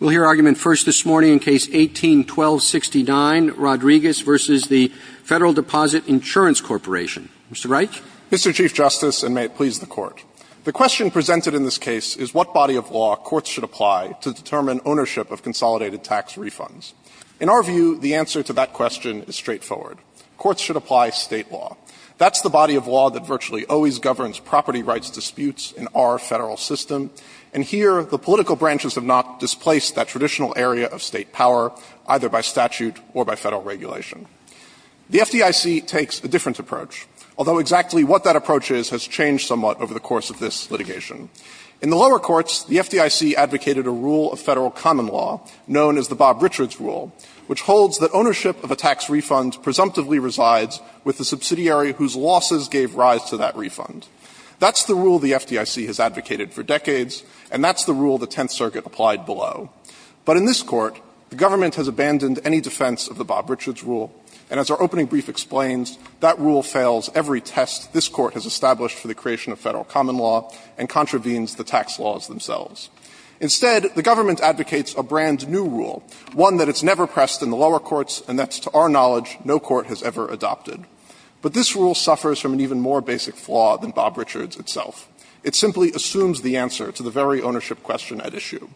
We'll hear argument first this morning in Case 18-1269, Rodriguez v. the Federal Deposit Insurance Corporation. Mr. Reich? Mr. Chief Justice, and may it please the Court, the question presented in this case is what body of law courts should apply to determine ownership of consolidated tax refunds. In our view, the answer to that question is straightforward. Courts should apply state law. That's the body of law that virtually always governs property rights disputes in our federal system. And here, the political branches have not displaced that traditional area of state power, either by statute or by federal regulation. The FDIC takes a different approach, although exactly what that approach is has changed somewhat over the course of this litigation. In the lower courts, the FDIC advocated a rule of federal common law known as the Bob Richards Rule, which holds that ownership of a tax refund presumptively resides with the subsidiary whose losses gave rise to that refund. That's the rule the FDIC has advocated for decades, and that's the rule the Tenth Circuit has followed. But in this Court, the government has abandoned any defense of the Bob Richards Rule, and as our opening brief explains, that rule fails every test this Court has established for the creation of federal common law and contravenes the tax laws themselves. Instead, the government advocates a brand-new rule, one that it's never pressed in the lower courts, and that, to our knowledge, no court has ever adopted. But this rule suffers from an even more basic flaw than Bob Richards itself. It simply assumes the answer to the very ownership question at issue.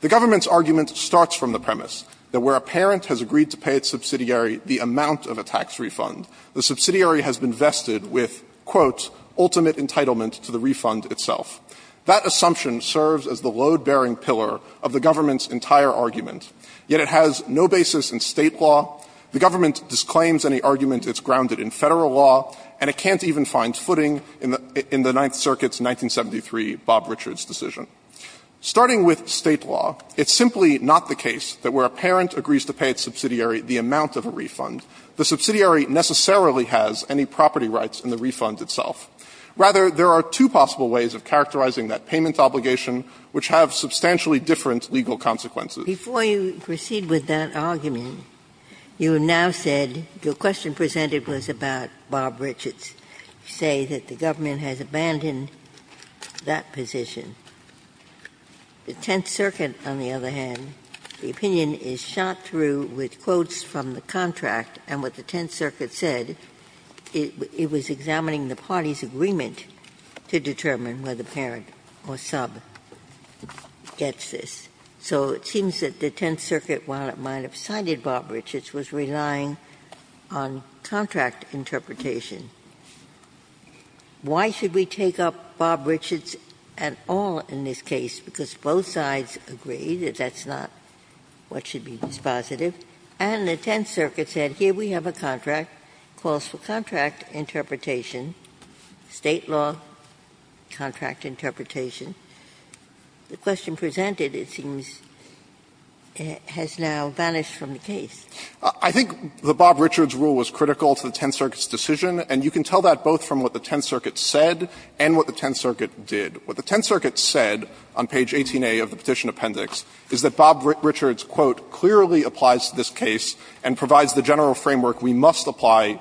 The government's argument starts from the premise that where a parent has agreed to pay its subsidiary the amount of a tax refund, the subsidiary has been vested with, quote, ultimate entitlement to the refund itself. That assumption serves as the load-bearing pillar of the government's entire argument, yet it has no basis in State law, the government disclaims any argument it's grounded in Federal law, and it can't even find footing in the Ninth Circuit's 1973 Bob Richards decision. Starting with State law, it's simply not the case that where a parent agrees to pay its subsidiary the amount of a refund, the subsidiary necessarily has any property rights in the refund itself. Rather, there are two possible ways of characterizing that payment obligation which have substantially different legal consequences. Ginsburg. Before you proceed with that argument, you have now said your question presented was about Bob Richards. You say that the government has abandoned that position. The Tenth Circuit, on the other hand, the opinion is shot through with quotes from the contract, and what the Tenth Circuit said, it was examining the party's agreement to determine whether parent or sub gets this. So it seems that the Tenth Circuit, while it might have cited Bob Richards, was relying on contract interpretation. Why should we take up Bob Richards at all in this case? Because both sides agree that that's not what should be dispositive. And the Tenth Circuit said, here we have a contract, calls for contract interpretation, State law, contract interpretation. The question presented, it seems, has now vanished from the case. I think the Bob Richards rule was critical to the Tenth Circuit's decision, and you can tell that both from what the Tenth Circuit said and what the Tenth Circuit did. What the Tenth Circuit said on page 18a of the petition appendix is that Bob Richards, quote, clearly applies to this case and provides the general framework we must apply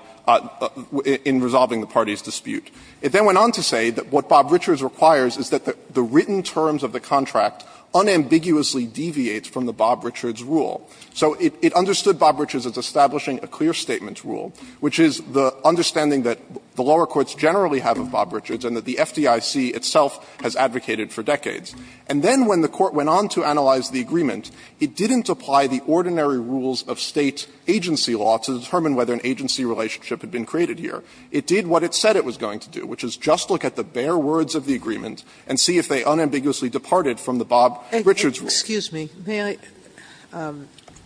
in resolving the party's dispute. It then went on to say that what the written terms of the contract unambiguously deviates from the Bob Richards rule. So it understood Bob Richards as establishing a clear statement rule, which is the understanding that the lower courts generally have of Bob Richards and that the FDIC itself has advocated for decades. And then when the Court went on to analyze the agreement, it didn't apply the ordinary rules of State agency law to determine whether an agency relationship had been created here. It did what it said it was going to do, which is just look at the bare words of the agreement and see if they unambiguously departed from the Bob Richards rule. Sotomayor, excuse me, may I?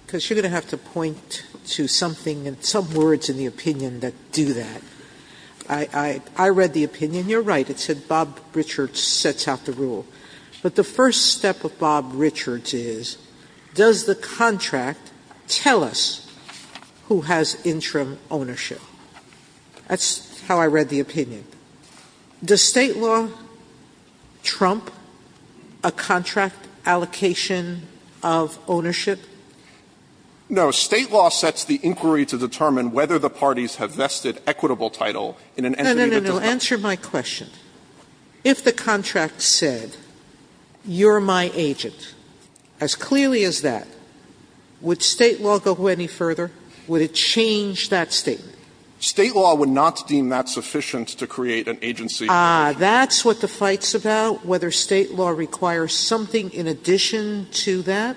Because you're going to have to point to something and some words in the opinion that do that. I read the opinion. You're right. It said Bob Richards sets out the rule. But the first step of Bob Richards is, does the contract tell us who has interim ownership? That's how I read the opinion. Does State law trump a contract allocation of ownership? No. State law sets the inquiry to determine whether the parties have vested equitable title in an entity that does not. No, no, no. Answer my question. If the contract said, you're my agent, as clearly as that, would State law go any further? Would it change that statement? State law would not deem that sufficient to create an agency relationship. Ah, that's what the fight's about, whether State law requires something in addition to that?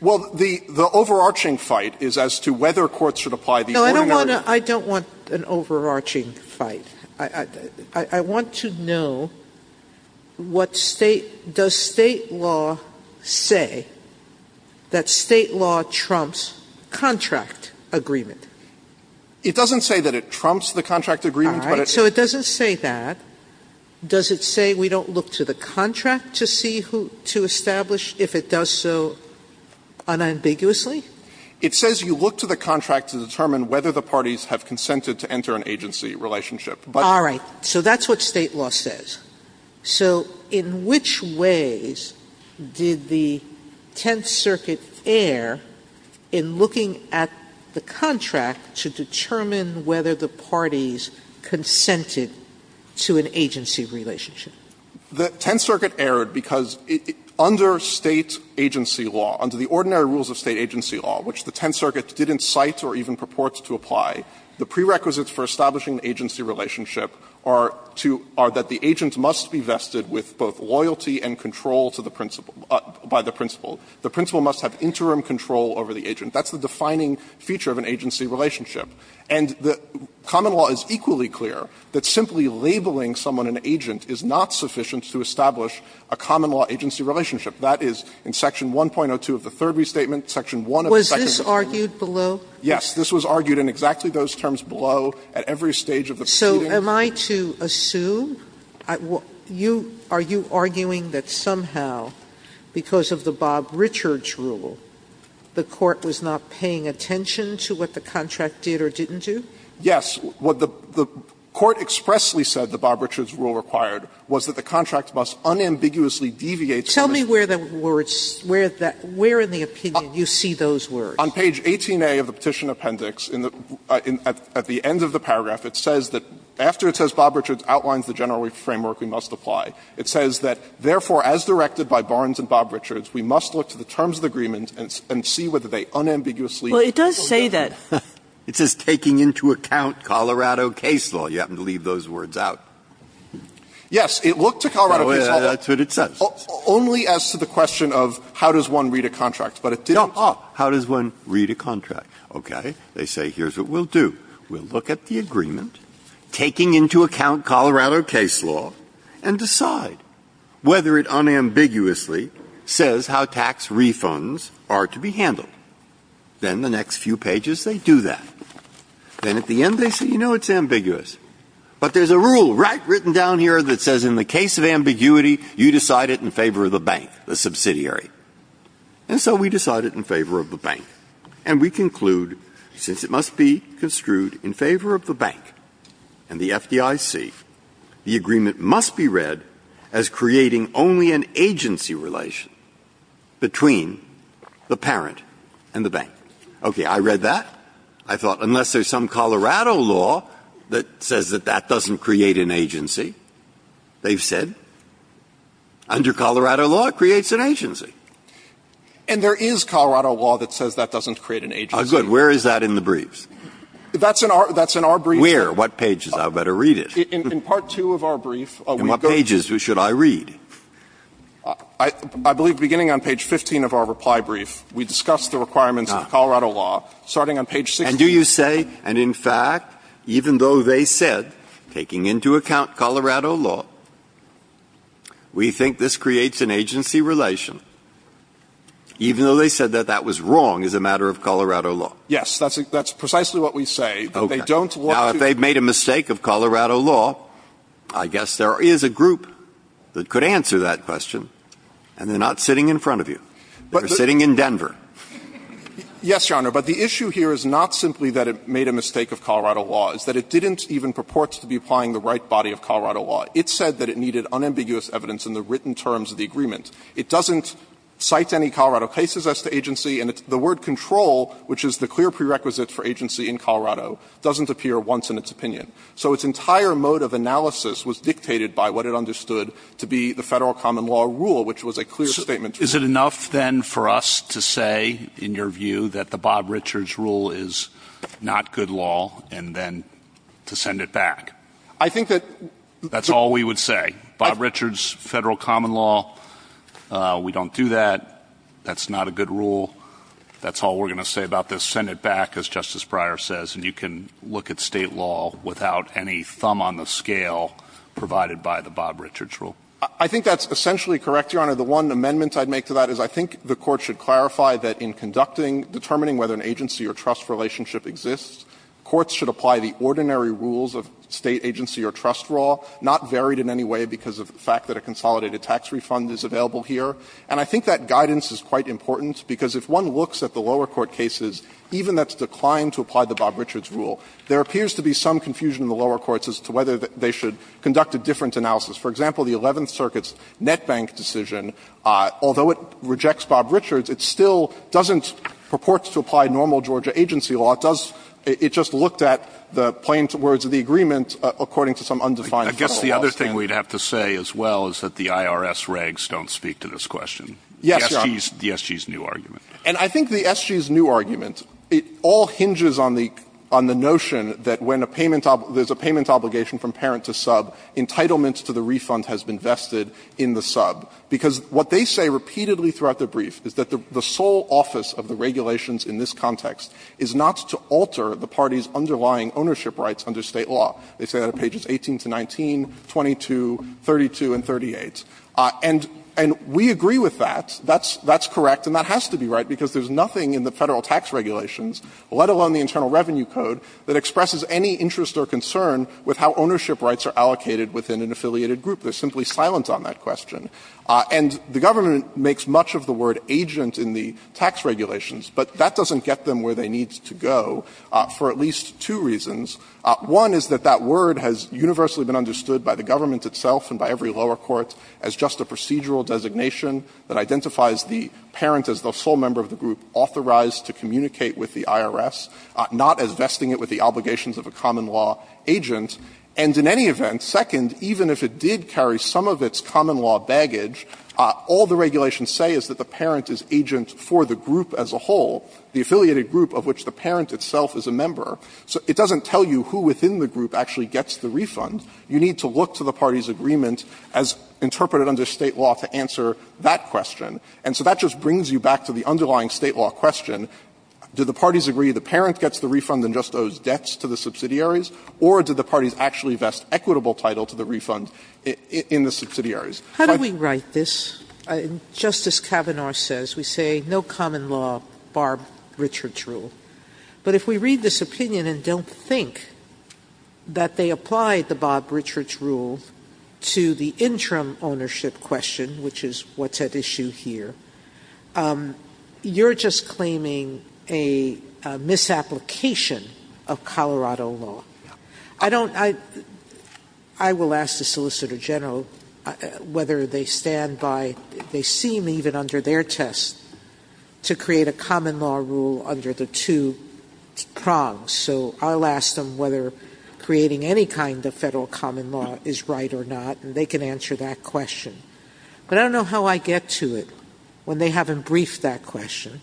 Well, the overarching fight is as to whether courts should apply the ordinary No, I don't want an overarching fight. I want to know what State – does State law say that State law trumps contract agreement? It doesn't say that it trumps the contract agreement, but it – All right. So it doesn't say that. Does it say we don't look to the contract to see who – to establish if it does so unambiguously? It says you look to the contract to determine whether the parties have consented to enter an agency relationship. But – All right. So that's what State law says. So in which ways did the Tenth Circuit err in looking at the contract to determine whether the parties consented to an agency relationship? The Tenth Circuit erred because under State agency law, under the ordinary rules of State agency law, which the Tenth Circuit didn't cite or even purports to apply, the prerequisites for establishing an agency relationship are to – are that the agent must be vested with both loyalty and control to the principal – by the principal. The principal must have interim control over the agent. That's the defining feature of an agency relationship. And the common law is equally clear that simply labeling someone an agent is not sufficient to establish a common law agency relationship. That is in section 1.02 of the Third Restatement, section 1 of the Second Restatement. Was this argued below? Yes. This was argued in exactly those terms below at every stage of the proceeding. So am I to assume you – are you arguing that somehow because of the Bob Richards rule, the Court was not paying attention to what the contract did or didn't do? Yes. What the Court expressly said the Bob Richards rule required was that the contract must unambiguously deviate from its – Tell me where the words – where in the opinion you see those words. On page 18A of the Petition Appendix, in the – at the end of the paragraph, it says that – after it says Bob Richards outlines the general framework we must apply, it says that, therefore, as directed by Barnes and Bob Richards, we must look to the terms of the agreement and see whether they unambiguously deviate. Well, it does say that. It says taking into account Colorado case law. You happen to leave those words out. Yes. It looked to Colorado case law. That's what it says. Only as to the question of how does one read a contract, but it didn't. Oh, how does one read a contract? Okay. They say here's what we'll do. We'll look at the agreement, taking into account Colorado case law, and decide whether it unambiguously says how tax refunds are to be handled. Then the next few pages they do that. Then at the end they say, you know, it's ambiguous. But there's a rule right written down here that says in the case of ambiguity, you decide it in favor of the bank, the subsidiary. And so we decide it in favor of the bank. And we conclude, since it must be construed in favor of the bank and the FDIC, the agreement must be read as creating only an agency relation between the parent and the bank. Okay. I read that. I thought unless there's some Colorado law that says that that doesn't create an agency, they've said under Colorado law it creates an agency. And there is Colorado law that says that doesn't create an agency. Good. Where is that in the briefs? That's in our briefs. Where? What pages? I better read it. In part two of our brief. And what pages should I read? I believe beginning on page 15 of our reply brief, we discuss the requirements of Colorado law, starting on page 16. And do you say, and in fact, even though they said, taking into account Colorado law, we think this creates an agency relation, even though they said that that was wrong as a matter of Colorado law? Yes. That's precisely what we say. Okay. Now, if they've made a mistake of Colorado law, I guess there is a group that could answer that question. And they're not sitting in front of you. They're sitting in Denver. Yes, Your Honor. But the issue here is not simply that it made a mistake of Colorado law. It's that it didn't even purport to be applying the right body of Colorado law. It said that it needed unambiguous evidence in the written terms of the agreement. It doesn't cite any Colorado cases as to agency. And the word control, which is the clear prerequisite for agency in Colorado, doesn't appear once in its opinion. So its entire mode of analysis was dictated by what it understood to be the federal common law rule, which was a clear statement. Is it enough, then, for us to say, in your view, that the Bob Richards rule is not good law, and then to send it back? I think that... That's all we would say. Bob Richards' federal common law, we don't do that. That's not a good rule. That's all we're going to say about this. Send it back, as Justice Breyer says. And you can look at state law without any thumb on the scale provided by the Bob Richards rule. I think that's essentially correct, Your Honor. The one amendment I'd make to that is I think the Court should clarify that in determining whether an agency or trust relationship exists, courts should apply the ordinary rules of state agency or trust law, not varied in any way because of the fact that a consolidated tax refund is available here. And I think that guidance is quite important, because if one looks at the lower court cases, even that's declined to apply the Bob Richards rule, there appears to be some confusion in the lower courts as to whether they should conduct a different analysis. For example, the Eleventh Circuit's Net Bank decision, although it rejects Bob Richards, it still doesn't purport to apply normal Georgia agency law. It does – it just looked at the plain words of the agreement according to some undefined federal law standard. I guess the other thing we'd have to say as well is that the IRS regs don't speak to this question. Yes, Your Honor. The SG's new argument. And I think the SG's new argument, it all hinges on the – on the notion that when a payment – there's a payment obligation from parent to sub, entitlement to the refund has been vested in the sub. Because what they say repeatedly throughout the brief is that the sole office of the regulations in this context is not to alter the party's underlying ownership rights under State law. They say that on pages 18 to 19, 22, 32, and 38. And – and we agree with that. That's – that's correct, and that has to be right, because there's nothing in the Federal tax regulations, let alone the Internal Revenue Code, that expresses any interest or concern with how ownership rights are allocated within an affiliated group. They're simply silent on that question. And the government makes much of the word agent in the tax regulations, but that doesn't get them where they need to go for at least two reasons. One is that that word has universally been understood by the government itself and by every lower court as just a procedural designation that identifies the parent as the sole member of the group authorized to communicate with the IRS, not as vesting it with the obligations of a common law agent. And in any event, second, even if it did carry some of its common law baggage, all the regulations say is that the parent is agent for the group as a whole, the affiliated group of which the parent itself is a member. So it doesn't tell you who within the group actually gets the refund. You need to look to the party's agreement as interpreted under State law to answer that question. And so that just brings you back to the underlying State law question. Do the parties agree the parent gets the refund and just owes debts to the subsidiaries, or do the parties actually vest equitable title to the refund in the subsidiaries? Sotomayor. Sotomayor. How do we write this? Just as Kavanaugh says, we say no common law, Bob Richard's rule. But if we read this opinion and don't think that they applied the Bob Richard's rule to the interim ownership question, which is what's at issue here, you're just claiming a misapplication of Colorado law. I don't, I will ask the Solicitor General whether they stand by, they seem even under their test to create a common law rule under the two prongs. So I'll ask them whether creating any kind of federal common law is right or not, and they can answer that question. But I don't know how I get to it when they haven't briefed that question.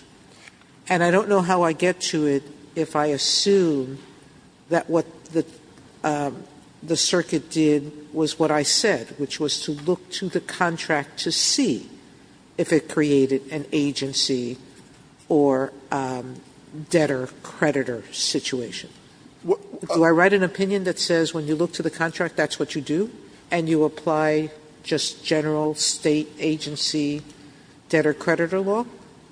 And I don't know how I get to it if I assume that what the circuit did was what I said, which was to look to the contract to see if it created an agency or debtor creditor situation. Do I write an opinion that says when you look to the contract, that's what you do, and you apply just general state agency debtor creditor law?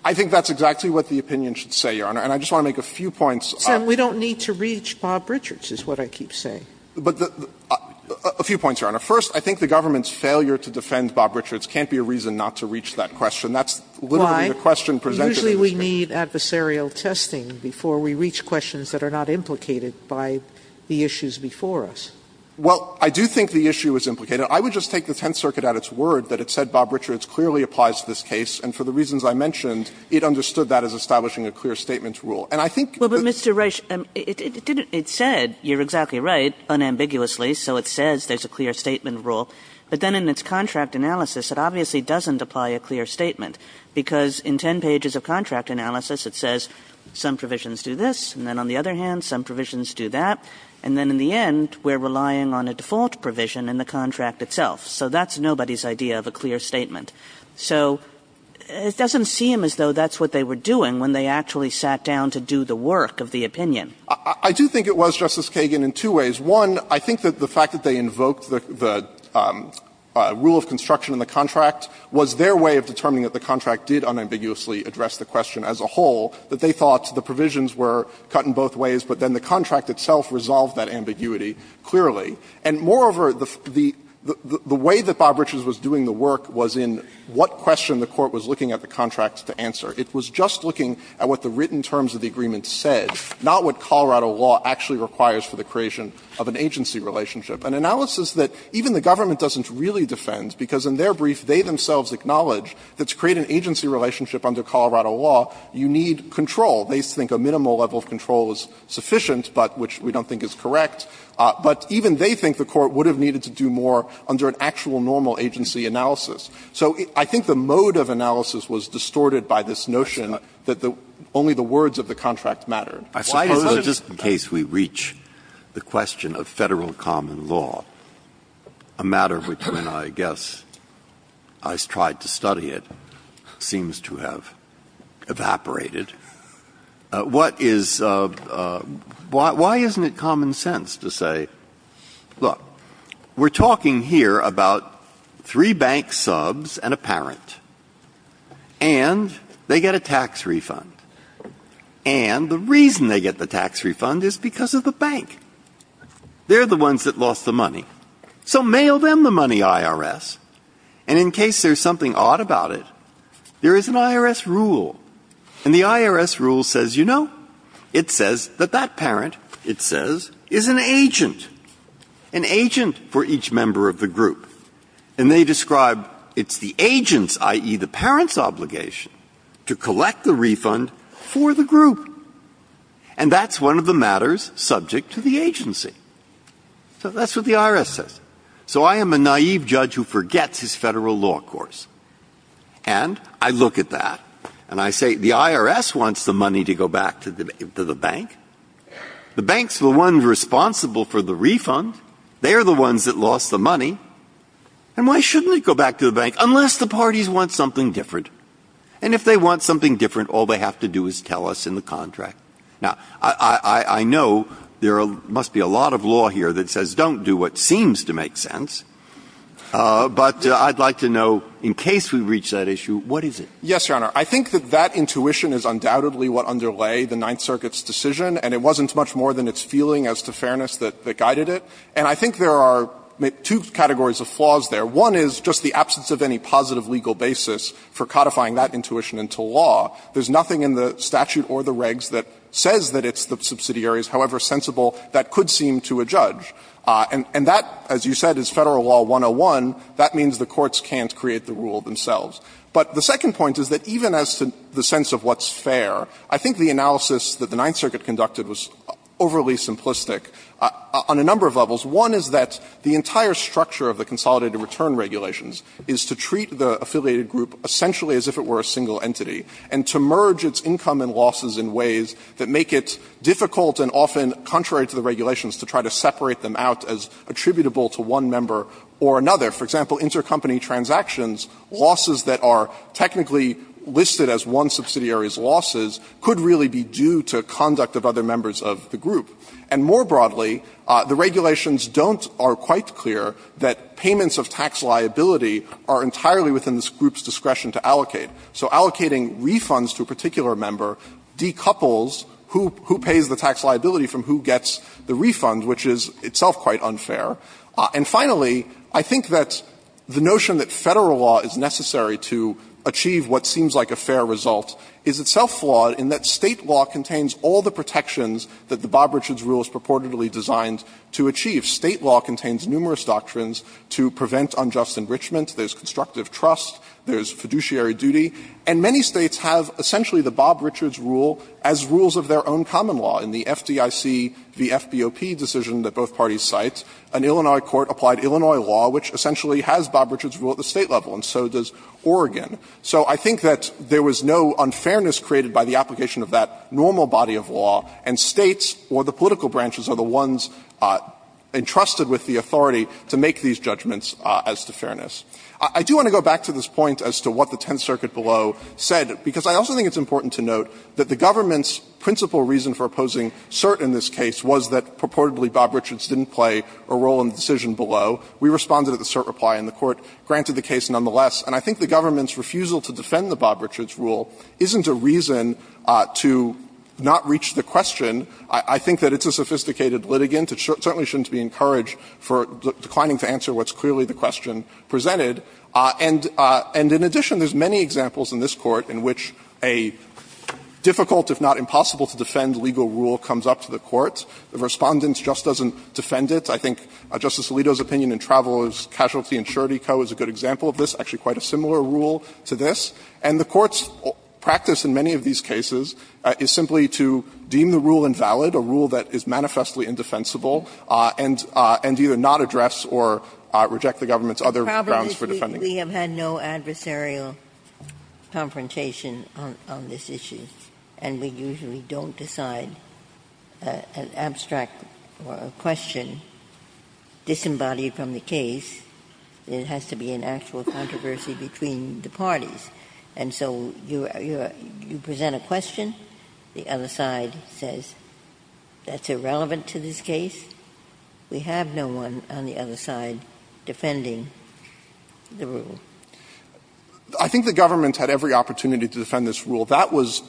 I think that's exactly what the opinion should say, Your Honor. And I just want to make a few points. Sotomayor, we don't need to reach Bob Richard's is what I keep saying. A few points, Your Honor. First, I think the government's failure to defend Bob Richard's can't be a reason not to reach that question. That's literally the question presented in this case. Why? Usually we need adversarial testing before we reach questions that are not implicated by the issues before us. Well, I do think the issue is implicated. I would just take the Tenth Circuit at its word that it said Bob Richard's clearly applies to this case. And for the reasons I mentioned, it understood that as establishing a clear statement rule. And I think the ---- Well, but, Mr. Reich, it didn't ---- it said, you're exactly right, unambiguously, so it says there's a clear statement rule. But then in its contract analysis, it obviously doesn't apply a clear statement, because in ten pages of contract analysis, it says some provisions do this, and then on the other hand, some provisions do that. And then in the end, we're relying on a default provision in the contract itself. So that's nobody's idea of a clear statement. So it doesn't seem as though that's what they were doing when they actually sat down to do the work of the opinion. I do think it was, Justice Kagan, in two ways. One, I think that the fact that they invoked the rule of construction in the contract was their way of determining that the contract did unambiguously address the question as a whole, that they thought the provisions were cut in both ways, but then the contract itself resolved that ambiguity clearly. And moreover, the way that Bob Richards was doing the work was in what question the Court was looking at the contract to answer. It was just looking at what the written terms of the agreement said, not what Colorado law actually requires for the creation of an agency relationship, an analysis that even the government doesn't really defend, because in their brief, they themselves acknowledge that to create an agency relationship under Colorado law, you need control. They think a minimal level of control is sufficient, but which we don't think is correct. But even they think the Court would have needed to do more under an actual normal agency analysis. So I think the mode of analysis was distorted by this notion that only the words of the contract mattered. Breyer, I suppose, just in case we reach the question of Federal common law, a matter which, when I guess I tried to study it, seems to have evaporated, what is why isn't it common sense to say, look, we're talking here about three bank subs and a parent, and they get a tax refund. And the reason they get the tax refund is because of the bank. They're the ones that lost the money. So mail them the money, IRS. And in case there's something odd about it, there is an IRS rule, and the IRS rule says, you know, it says that that parent, it says, is an agent, an agent for each member of the group. And they describe it's the agent's, i.e., the parent's obligation to collect the refund for the group. And that's one of the matters subject to the agency. So that's what the IRS says. So I am a naive judge who forgets his Federal law course. And I look at that, and I say, the IRS wants the money to go back to the bank. The bank's the one responsible for the refund. They're the ones that lost the money. And why shouldn't it go back to the bank, unless the parties want something different? And if they want something different, all they have to do is tell us in the contract. Now, I know there must be a lot of law here that says don't do what seems to make sense, but I'd like to know, in case we reach that issue, what is it? Yes, Your Honor. I think that that intuition is undoubtedly what underlay the Ninth Circuit's decision, and it wasn't much more than its feeling as to fairness that guided it. And I think there are two categories of flaws there. One is just the absence of any positive legal basis for codifying that intuition into law. There's nothing in the statute or the regs that says that it's the subsidiary's however sensible that could seem to a judge. And that, as you said, is Federal Law 101. That means the courts can't create the rule themselves. But the second point is that even as to the sense of what's fair, I think the analysis that the Ninth Circuit conducted was overly simplistic on a number of levels. One is that the entire structure of the consolidated return regulations is to treat the affiliated group essentially as if it were a single entity and to merge its income and losses in ways that make it difficult and often contrary to the regulations to try to separate them out as attributable to one member or another. For example, intercompany transactions, losses that are technically listed as one subsidiary's losses, could really be due to conduct of other members of the group. And more broadly, the regulations don't or are quite clear that payments of tax liability are entirely within this group's discretion to allocate. So allocating refunds to a particular member decouples who pays the tax liability from who gets the refund, which is itself quite unfair. And finally, I think that the notion that Federal Law is necessary to achieve what seems like a fair result is itself flawed in that State law contains all the protections that the Bob Richards rule is purportedly designed to achieve. State law contains numerous doctrines to prevent unjust enrichment. There's constructive trust. There's fiduciary duty. And many States have essentially the Bob Richards rule as rules of their own common law in the FDIC v. FBOP decision that both parties cite. An Illinois court applied Illinois law, which essentially has Bob Richards rule at the State level, and so does Oregon. So I think that there was no unfairness created by the application of that normal body of law, and States or the political branches are the ones entrusted with the authority to make these judgments as to fairness. I do want to go back to this point as to what the Tenth Circuit below said, because I also think it's important to note that the government's principal reason for opposing cert in this case was that purportedly Bob Richards didn't play a role in the decision below. We responded at the cert reply, and the Court granted the case nonetheless. And I think the government's refusal to defend the Bob Richards rule isn't a reason to not reach the question. I think that it's a sophisticated litigant. It certainly shouldn't be encouraged for declining to answer what's clearly the question presented. And in addition, there's many examples in this Court in which a difficult, if not impossible, to defend legal rule comes up to the Court. The Respondent just doesn't defend it. I think Justice Alito's opinion in Travelers Casualty Insurity Co. is a good example of this, actually quite a similar rule to this. And the Court's practice in many of these cases is simply to deem the rule invalid, a rule that is manifestly indefensible, and either not address or reject the government's other grounds for defense. JUSTICE GINSBURG We have had no adversarial confrontation on this issue, and we usually don't decide an abstract question disembodied from the case. It has to be an actual controversy between the parties. And so you present a question, the other side says, that's irrelevant to this case. We have no one on the other side defending the rule. I think the government had every opportunity to defend this rule. That was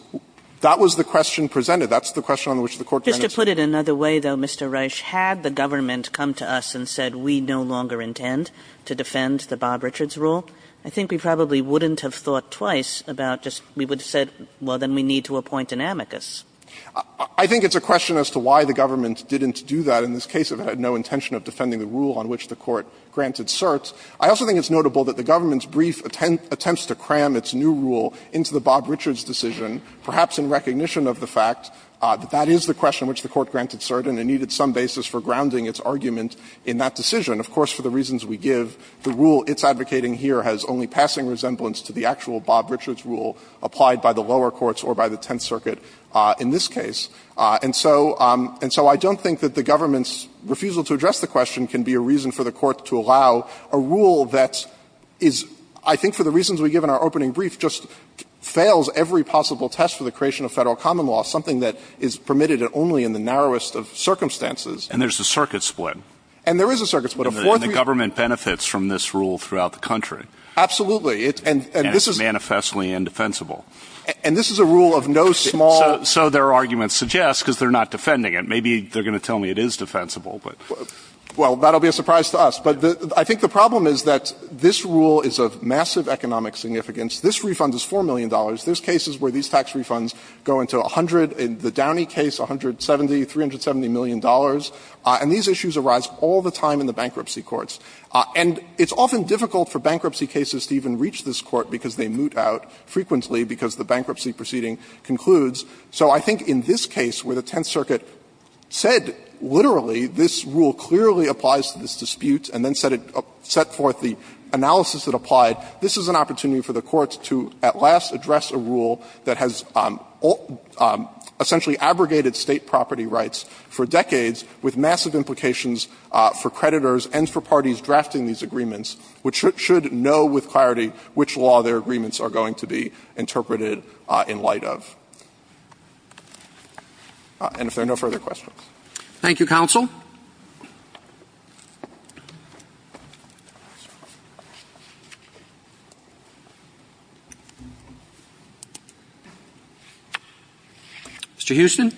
the question presented. That's the question on which the Court presented. Kagan just to put it another way, though, Mr. Reich, had the government come to us and said, we no longer intend to defend the Bob Richards rule, I think we probably wouldn't have thought twice about just we would have said, well, then we need to appoint an amicus. I think it's a question as to why the government didn't do that in this case if it had no intention of defending the rule on which the Court granted cert. I also think it's notable that the government's brief attempts to cram its new rule into the Bob Richards decision, perhaps in recognition of the fact that that is the question which the Court granted cert, and it needed some basis for grounding its argument in that decision. Of course, for the reasons we give, the rule it's advocating here has only passing resemblance to the actual Bob Richards rule applied by the lower courts or by the Tenth Circuit in this case. And so I don't think that the government's refusal to address the question can be a reason for the Court to allow a rule that is, I think for the reasons we give in our opening brief, just fails every possible test for the creation of Federal common law, something that is permitted only in the narrowest of circumstances. And there's a circuit split. And there is a circuit split. And the government benefits from this rule throughout the country. Absolutely. And this is a rule of no small So their argument suggests, because they're not defending it, maybe they're going to tell me it is defensible, but Well, that'll be a surprise to us. But I think the problem is that this rule is of massive economic significance. This refund is $4 million. There's cases where these tax refunds go into 100, in the Downey case, $170, $370 million, and these issues arise all the time in the bankruptcy courts. And it's often difficult for bankruptcy cases to even reach this Court because they moot out frequently because the bankruptcy proceeding concludes. So I think in this case where the Tenth Circuit said literally this rule clearly applies to this dispute and then set it up, set forth the analysis that applied, this is an opportunity for the Court to at last address a rule that has essentially abrogated State property rights for decades with massive implications for creditors and for parties drafting these agreements, which should know with clarity which law their agreements are going to be interpreted in light of. And if there are no further questions. Thank you, counsel. Mr. Houston.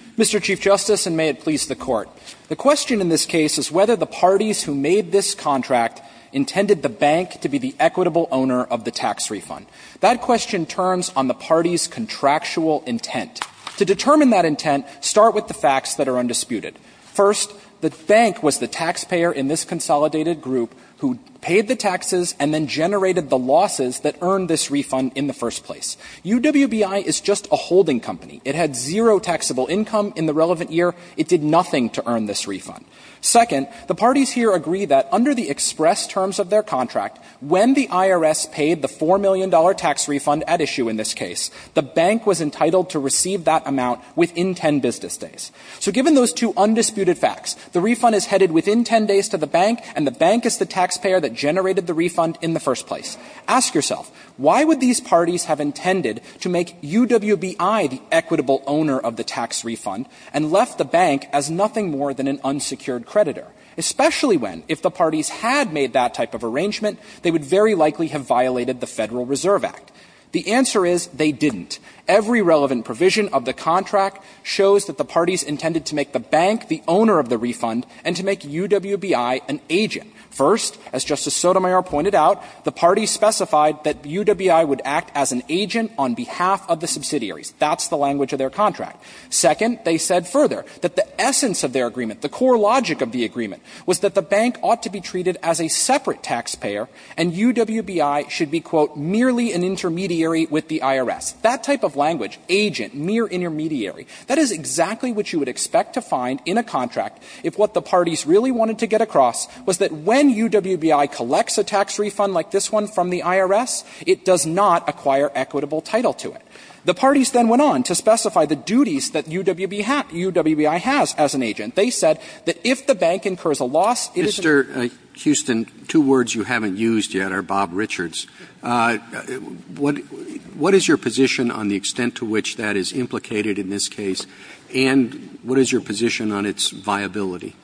The question in this case is whether the parties who made this contract intended the bank to be the equitable owner of the tax refund. That question turns on the party's contractual intent. To determine that intent, start with the facts that are undisputed. First, the bank was the taxpayer in this consolidated group who paid the taxes and then generated the losses that earned this refund in the first place. UWBI is just a holding company. It had zero taxable income in the relevant year. It did nothing to earn this refund. Second, the parties here agree that under the express terms of their contract, when the IRS paid the $4 million tax refund at issue in this case, the bank was entitled to receive that amount within 10 business days. So given those two undisputed facts, the refund is headed within 10 days to the bank and the bank is the taxpayer that generated the refund in the first place, ask yourself, why would these parties have intended to make UWBI the equitable owner of the tax refund and left the bank as nothing more than an unsecured creditor, especially when, if the parties had made that type of arrangement, they would very likely have violated the Federal Reserve Act? The answer is they didn't. Every relevant provision of the contract shows that the parties intended to make the bank the owner of the refund and to make UWBI an agent. First, as Justice Sotomayor pointed out, the parties specified that UWBI would act as an agent on behalf of the subsidiaries. That's the language of their contract. Second, they said further that the essence of their agreement, the core logic of the agreement, was that the bank ought to be treated as a separate taxpayer and UWBI should be, quote, merely an intermediary with the IRS. That type of language, agent, mere intermediary, that is exactly what you would expect to find in a contract if what the parties really wanted to get across was that when UWBI collects a tax refund like this one from the IRS, it does not acquire equitable title to it. The parties then went on to specify the duties that UWBI has as an agent. They said that if the bank incurs a loss, it is an agent. Roberts. Mr. Houston, two words you haven't used yet are Bob Richards. What is your position on the extent to which that is implicated in this case, and what is your position on its viability?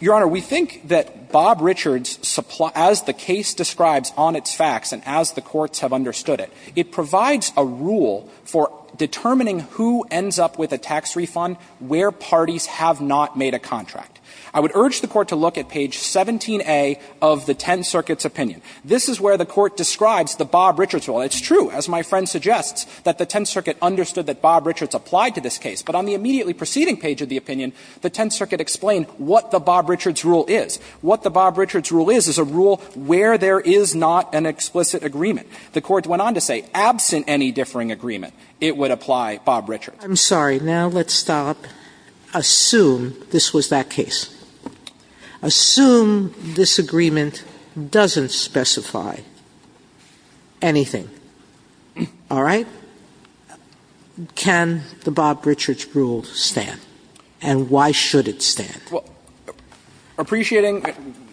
Your Honor, we think that Bob Richards, as the case describes on its facts and as the rule for determining who ends up with a tax refund where parties have not made a contract. I would urge the Court to look at page 17a of the Tenth Circuit's opinion. This is where the Court describes the Bob Richards rule. It's true, as my friend suggests, that the Tenth Circuit understood that Bob Richards applied to this case. But on the immediately preceding page of the opinion, the Tenth Circuit explained what the Bob Richards rule is. What the Bob Richards rule is is a rule where there is not an explicit agreement. The Court went on to say, absent any differing agreement, it would apply Bob Richards. Sotomayor, I'm sorry, now let's stop. Assume this was that case. Assume this agreement doesn't specify anything. All right? Can the Bob Richards rule stand, and why should it stand? Well, appreciating,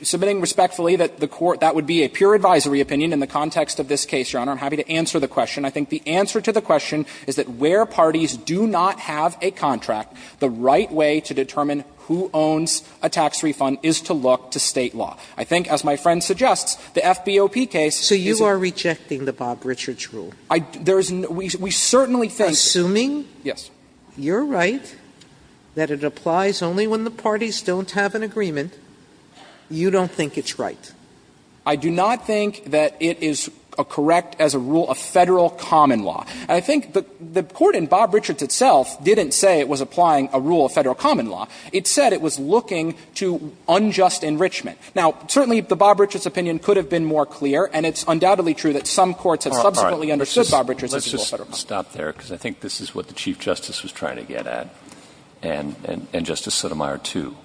submitting respectfully that the Court – that would be a pure advisory opinion in the context of this case, Your Honor, I'm happy to answer the question. I think the answer to the question is that where parties do not have a contract, the right way to determine who owns a tax refund is to look to State law. I think, as my friend suggests, the FBOP case is a – So you are rejecting the Bob Richards rule? I – there is – we certainly think – Assuming – Yes. You're right that it applies only when the parties don't have an agreement, you don't think it's right? I do not think that it is correct as a rule of Federal common law. I think the Court in Bob Richards itself didn't say it was applying a rule of Federal common law. It said it was looking to unjust enrichment. Now, certainly the Bob Richards opinion could have been more clear, and it's undoubtedly true that some courts have subsequently understood Bob Richards as a rule of Federal common law. All right. Let's just stop there, because I think this is what the Chief Justice was trying to get at, and Justice Sotomayor, too.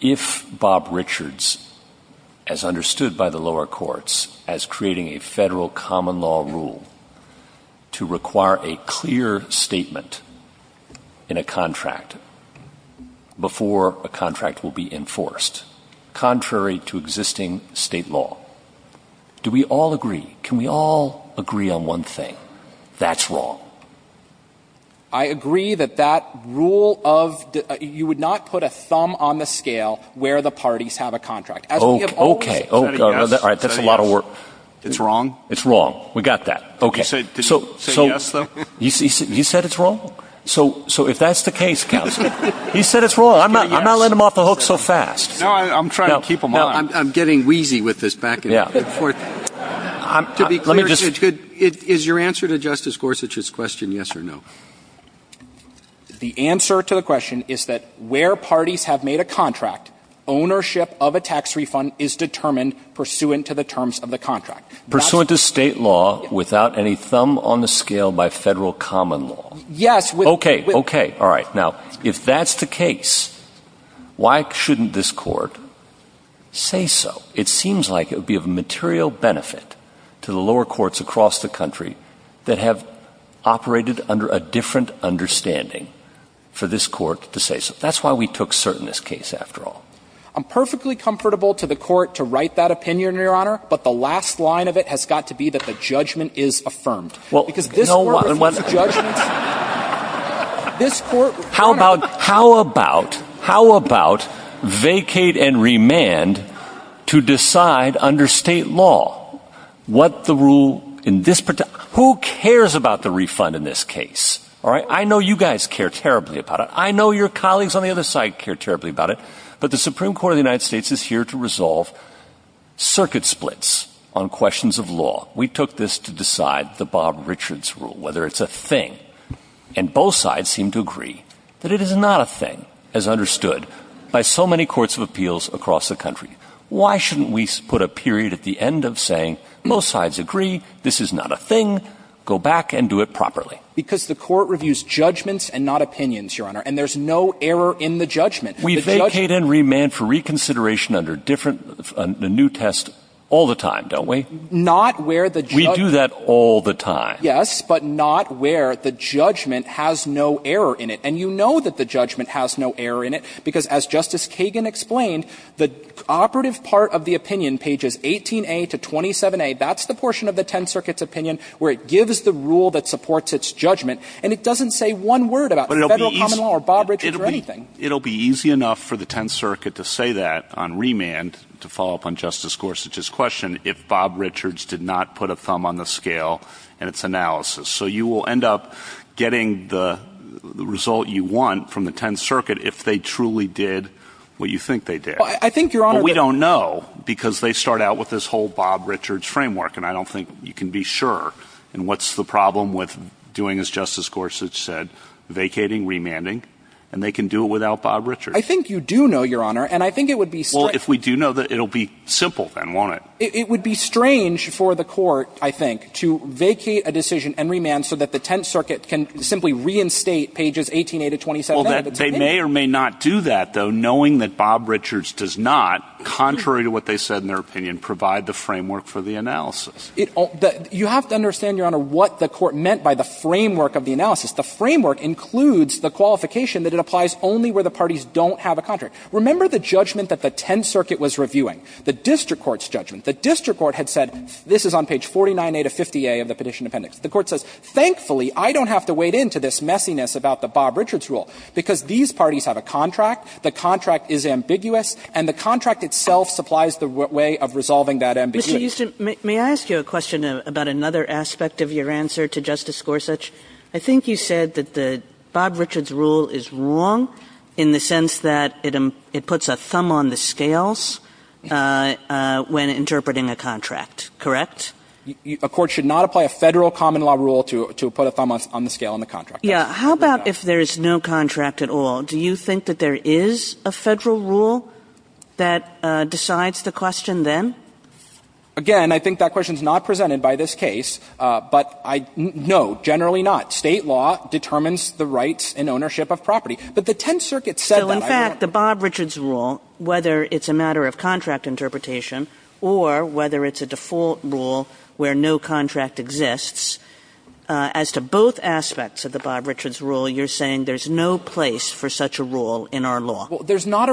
If Bob Richards, as understood by the lower courts, as creating a Federal common law rule to require a clear statement in a contract before a contract will be enforced, contrary to existing State law, do we all agree – can we all agree on one thing? That's wrong. I agree that that rule of – you would not put a thumb on the scale where the parties have a contract. As we have always said. Okay. Is that a yes? All right. That's a lot of work. Is that a yes? It's wrong? It's wrong. We got that. Okay. Did he say yes, though? He said it's wrong? So if that's the case, Counsel, he said it's wrong. I'm not letting him off the hook so fast. No, I'm trying to keep him on. I'm getting wheezy with this back and forth. To be clear, could – is your answer to Justice Gorsuch's question a yes? The answer to the question is that where parties have made a contract, ownership of a tax refund is determined pursuant to the terms of the contract. Pursuant to State law without any thumb on the scale by Federal common law? Yes. Okay. Okay. All right. Now, if that's the case, why shouldn't this Court say so? It seems like it would be of material benefit to the lower courts across the country that have operated under a different understanding for this Court to say so. That's why we took cert in this case, after all. I'm perfectly comfortable to the Court to write that opinion, Your Honor, but the last line of it has got to be that the judgment is affirmed. Well, no one – Because this Court refutes judgments – this Court – How about – how about – how about vacate and remand to decide under State law what the rule in this – who cares about the refund in this case? All right? I know you guys care terribly about it. I know your colleagues on the other side care terribly about it. But the Supreme Court of the United States is here to resolve circuit splits on questions of law. We took this to decide the Bob Richards rule, whether it's a thing. And both sides seem to agree that it is not a thing, as understood by so many courts of appeals across the country. Why shouldn't we put a period at the end of saying, most sides agree, this is not a thing, go back and do it properly? Because the Court reviews judgments and not opinions, Your Honor, and there's no error in the judgment. We vacate and remand for reconsideration under different – the new test all the time, don't we? Not where the – We do that all the time. Yes, but not where the judgment has no error in it. And you know that the judgment has no error in it, because as Justice Kagan explained, the operative part of the opinion, pages 18a to 27a, that's the portion of the Tenth Circuit's opinion where it gives the rule that supports its judgment, and it doesn't say one word about Federal common law or Bob Richards or anything. But it'll be easy – it'll be easy enough for the Tenth Circuit to say that on remand, to follow up on Justice Gorsuch's question, if Bob Richards did not put a thumb on the scale in its analysis. So you will end up getting the result you want from the Tenth Circuit if they truly did what you think they did. Well, I think, Your Honor – But we don't know, because they start out with this whole Bob Richards framework, and I don't think you can be sure. And what's the problem with doing, as Justice Gorsuch said, vacating, remanding, and they can do it without Bob Richards? I think you do know, Your Honor, and I think it would be – Well, if we do know, it'll be simple then, won't it? It would be strange for the Court, I think, to vacate a decision and remand so that the Tenth Circuit can simply reinstate pages 18a to 27a of its opinion. Well, they may or may not do that, though, knowing that Bob Richards does not, contrary to what they said in their opinion, provide the framework for the analysis. You have to understand, Your Honor, what the Court meant by the framework of the analysis. The framework includes the qualification that it applies only where the parties don't have a contract. Remember the judgment that the Tenth Circuit was reviewing, the district court's judgment. The district court had said, this is on page 49a to 50a of the petition appendix. The Court says, thankfully, I don't have to wade into this messiness about the Bob Richards rule. Because these parties have a contract, the contract is ambiguous, and the contract itself supplies the way of resolving that ambiguity. Kagan, may I ask you a question about another aspect of your answer to Justice Gorsuch? I think you said that the Bob Richards rule is wrong in the sense that it puts a thumb on the scales when interpreting a contract, correct? A court should not apply a Federal common law rule to put a thumb on the scale on the contract. Yeah. How about if there is no contract at all? Do you think that there is a Federal rule that decides the question then? Again, I think that question is not presented by this case, but I don't know. Generally not. State law determines the rights and ownership of property. But the Tenth Circuit said that. So in fact, the Bob Richards rule, whether it's a matter of contract interpretation or whether it's a default rule where no contract exists, as to both aspects of the Bob Richards rule, you're saying there's no place for such a rule in our law. Well, there's not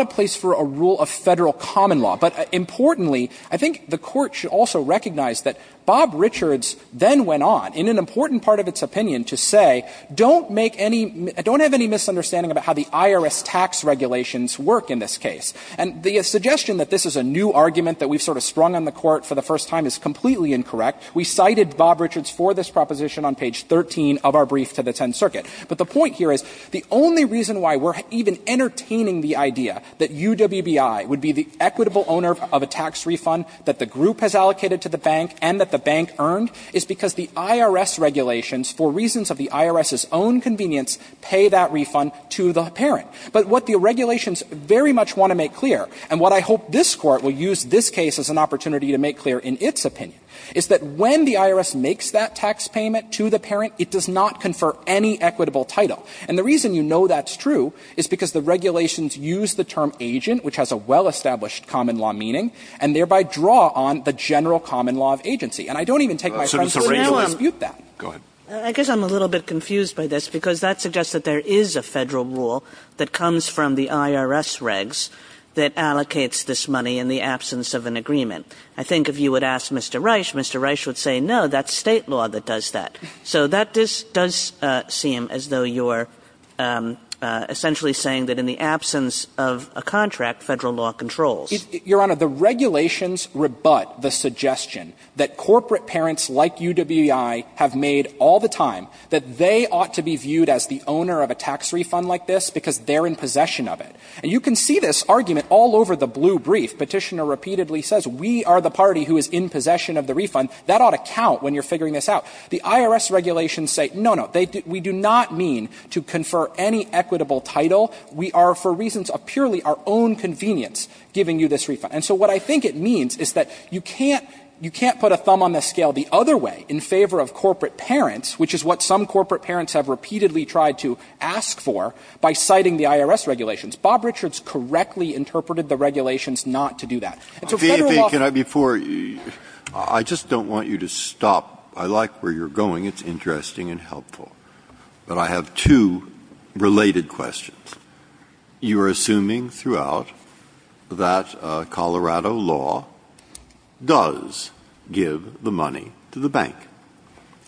a place for a rule of Federal common law. But importantly, I think the Court should also recognize that Bob Richards then went on, in an important part of its opinion, to say, don't make any – don't have any misunderstanding about how the IRS tax regulations work in this case. And the suggestion that this is a new argument that we've sort of sprung on the Court for the first time is completely incorrect. We cited Bob Richards for this proposition on page 13 of our brief to the Tenth Circuit. But the point here is the only reason why we're even entertaining the idea that UWBI would be the equitable owner of a tax refund that the group has allocated to the bank and that the bank earned is because the IRS regulations, for reasons of the IRS's own convenience, pay that refund to the parent. But what the regulations very much want to make clear, and what I hope this Court will use this case as an opportunity to make clear in its opinion, is that when the IRS makes that tax payment to the parent, it does not confer any equitable title. And the reason you know that's true is because the regulations use the term agent, which has a well-established common law meaning, and thereby draw on the general common law of agency. And I don't even take my friend's point of view to dispute that. Go ahead. I guess I'm a little bit confused by this, because that suggests that there is a Federal rule that comes from the IRS regs that allocates this money in the absence of an agreement. I think if you would ask Mr. Reich, Mr. Reich would say, no, that's State law that does that. So that does seem as though you're essentially saying that in the absence of a contract, Federal law controls. Your Honor, the regulations rebut the suggestion that corporate parents like UWBI have made all the time that they ought to be viewed as the owner of a tax refund like this, because they're in possession of it. And you can see this argument all over the blue brief. Petitioner repeatedly says, we are the party who is in possession of the refund. That ought to count when you're figuring this out. The IRS regulations say, no, no, we do not mean to confer any equitable title. We are, for reasons of purely our own convenience, giving you this refund. And so what I think it means is that you can't put a thumb on the scale the other way in favor of corporate parents, which is what some corporate parents have repeatedly tried to ask for by citing the IRS regulations. Bob Richards correctly interpreted the regulations not to do that. And so Federal law can't do that. Breyer. I just don't want you to stop. I like where you're going. It's interesting and helpful. But I have two related questions. You are assuming throughout that Colorado law does give the money to the bank.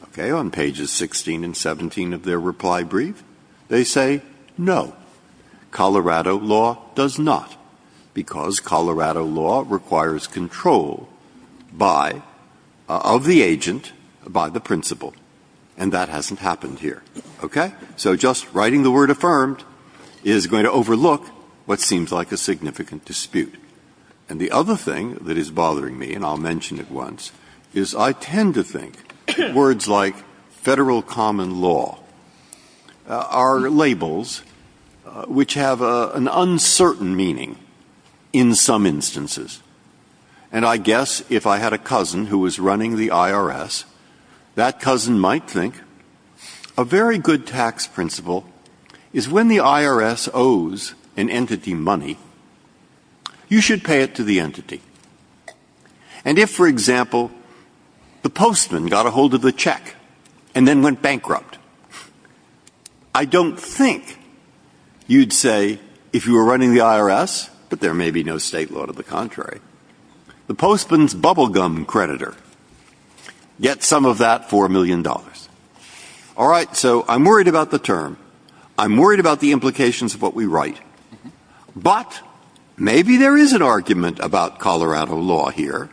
Okay. On pages 16 and 17 of their reply brief, they say, no, Colorado law does not, because Colorado law requires control by, of the agent, by the principal. And that hasn't happened here. Okay? So just writing the word affirmed is going to overlook what seems like a significant dispute. And the other thing that is bothering me, and I'll mention it once, is I tend to think words like Federal common law are labels which have an uncertain meaning in some instances. And I guess if I had a cousin who was running the IRS, that cousin might think a very good tax principle is when the IRS owes an entity money, you should pay it to the entity. And if, for example, the postman got a hold of the check and then went bankrupt, I don't think you'd say, if you were running the IRS, but there may be no state law to the contrary, the postman's bubblegum creditor gets some of that $4 million. All right, so I'm worried about the term. I'm worried about the implications of what we write. But maybe there is an argument about Colorado law here,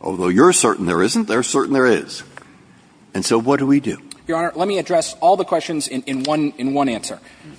although you're certain there isn't, they're certain there is. And so what do we do? Your Honor, let me address all the questions in one answer.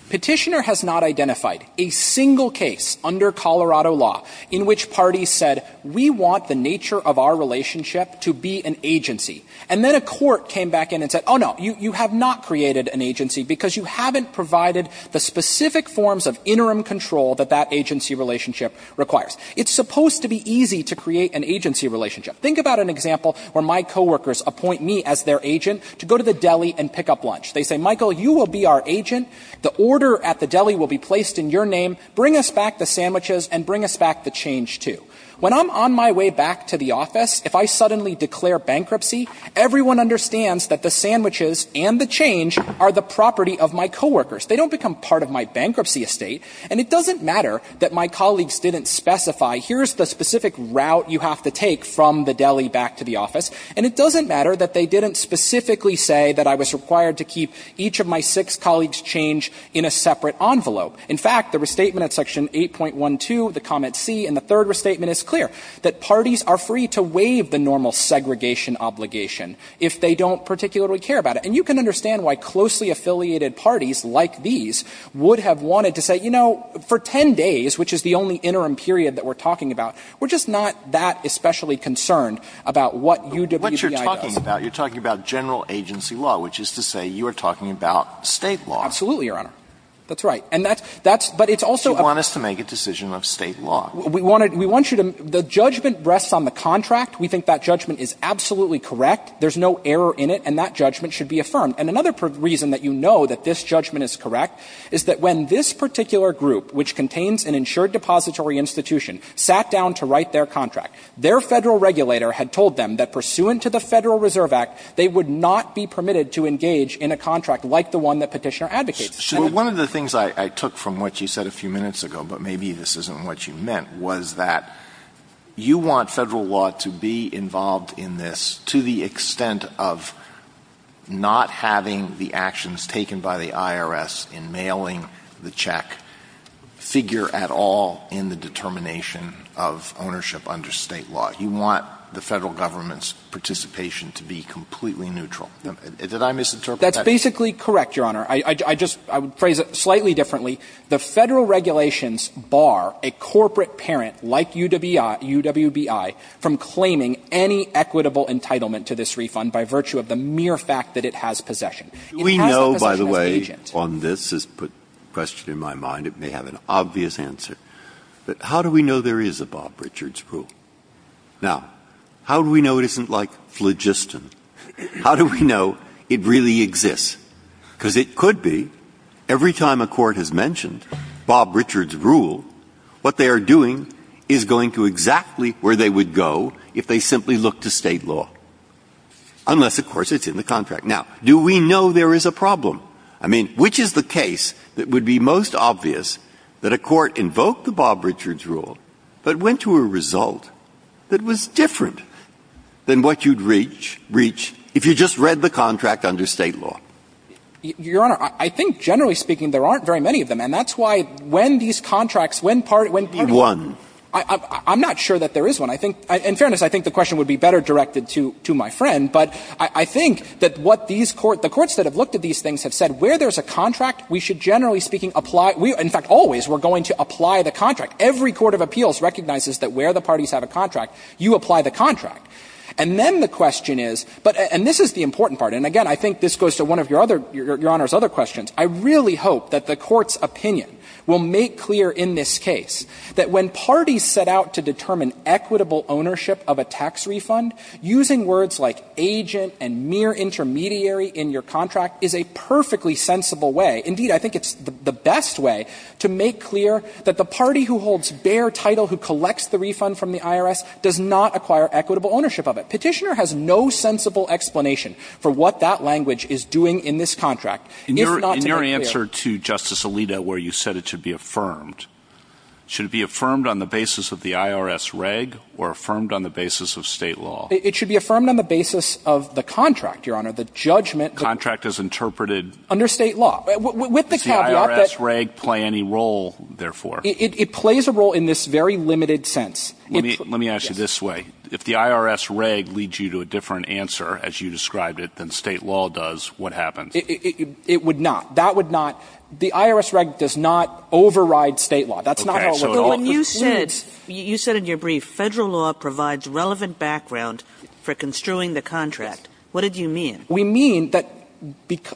Petitioner has not identified a single case under Colorado law in which parties said, we want the nature of our relationship to be an agency. And then a court came back in and said, oh, no, you have not created an agency because you haven't provided the specific forms of interim control that that agency relationship requires. It's supposed to be easy to create an agency relationship. Think about an example where my co-workers appoint me as their agent to go to the deli and pick up lunch. They say, Michael, you will be our agent, the order at the deli will be placed in your name, bring us back the sandwiches, and bring us back the change, too. When I'm on my way back to the office, if I suddenly declare bankruptcy, everyone understands that the sandwiches and the change are the property of my co-workers. They don't become part of my bankruptcy estate. And it doesn't matter that my colleagues didn't specify, here's the specific route you have to take from the deli back to the office. And it doesn't matter that they didn't specifically say that I was required to keep each of my six colleagues change in a separate envelope. In fact, the restatement at Section 8.12, the comment C, and the third restatement is clear, that parties are free to waive the normal segregation obligation. If they don't particularly care about it. And you can understand why closely affiliated parties like these would have wanted to say, you know, for 10 days, which is the only interim period that we're talking about, we're just not that especially concerned about what UWBI does. Alito But what you're talking about, you're talking about general agency law, which is to say you are talking about State law. Fisher Absolutely, Your Honor. That's right. And that's — that's — but it's also — Alito You want us to make a decision of State law. Fisher We wanted — we want you to — the judgment rests on the contract. We think that judgment is absolutely correct. There's no error in it, and that judgment should be affirmed. And another reason that you know that this judgment is correct is that when this particular group, which contains an insured depository institution, sat down to write their contract, their Federal regulator had told them that pursuant to the Federal Reserve Act, they would not be permitted to engage in a contract like the one that Petitioner advocates. Alito One of the things I took from what you said a few minutes ago, but maybe this isn't what you meant, was that you want Federal law to be involved in this to the extent of not having the actions taken by the IRS in mailing the check figure at all in the determination of ownership under State law. You want the Federal government's participation to be completely neutral. Did I misinterpret that? Fisher That's basically correct, Your Honor. I just — I would phrase it slightly differently. The Federal regulations bar a corporate parent like UWI — UWBI from claiming any equitable entitlement to this refund by virtue of the mere fact that it has possession. It has the possession as an agent. Do we know, by the way, on this, this question in my mind, it may have an obvious answer, but how do we know there is a Bob Richards rule? Now, how do we know it isn't like phlogiston? How do we know it really exists? Because it could be, every time a court has mentioned Bob Richards' rule, what they are doing is going to exactly where they would go if they simply looked to State law, unless, of course, it's in the contract. Now, do we know there is a problem? I mean, which is the case that would be most obvious that a court invoked the Bob Richards rule but went to a result that was different than what you'd reach if you just read the contract under State law? Your Honor, I think generally speaking, there aren't very many of them. And that's why when these contracts, when parties — One. I'm not sure that there is one. I think — in fairness, I think the question would be better directed to my friend. But I think that what these courts — the courts that have looked at these things have said where there's a contract, we should generally speaking apply — in fact, always we're going to apply the contract. Every court of appeals recognizes that where the parties have a contract, you apply the contract. And then the question is — and this is the important part. And again, I think this goes to one of your other — Your Honor's other questions. I really hope that the Court's opinion will make clear in this case that when parties set out to determine equitable ownership of a tax refund, using words like agent and mere intermediary in your contract is a perfectly sensible way — indeed, I think it's the best way — to make clear that the party who holds bare title, who collects the refund from the IRS, does not acquire equitable ownership of it. Petitioner has no sensible explanation for what that language is doing in this contract. It's not to make clear — In your answer to Justice Alito where you said it should be affirmed, should it be affirmed on the basis of the IRS reg or affirmed on the basis of State law? It should be affirmed on the basis of the contract, Your Honor. The judgment — Contract is interpreted — Under State law. With the caveat that — Does the IRS reg play any role, therefore? It plays a role in this very limited sense. Let me ask you this way. If the IRS reg leads you to a different answer, as you described it, than State law does, what happens? It would not. That would not — the IRS reg does not override State law. That's not how it works. But when you said — you said in your brief, Federal law provides relevant background for construing the contract. What did you mean? We mean that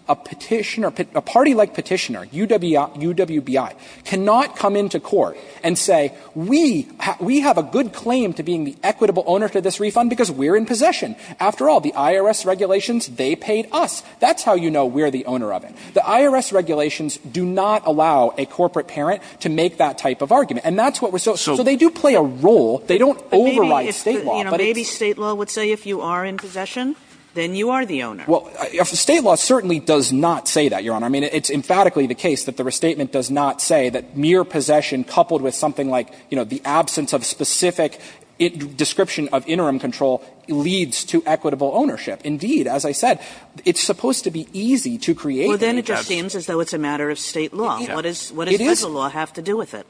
a petitioner — a party-like petitioner, UWBI, cannot come into court and say, we have a good claim to being the equitable owner for this refund because we're in possession. After all, the IRS regulations, they paid us. That's how you know we're the owner of it. The IRS regulations do not allow a corporate parent to make that type of argument. And that's what we're — so they do play a role. They don't override State law. Maybe State law would say if you are in possession, then you are the owner. Well, State law certainly does not say that, Your Honor. I mean, it's emphatically the case that the restatement does not say that mere possession coupled with something like, you know, the absence of specific description of interim control leads to equitable ownership. Indeed, as I said, it's supposed to be easy to create — Well, then it just seems as though it's a matter of State law. What does — what does Federal law have to do with it?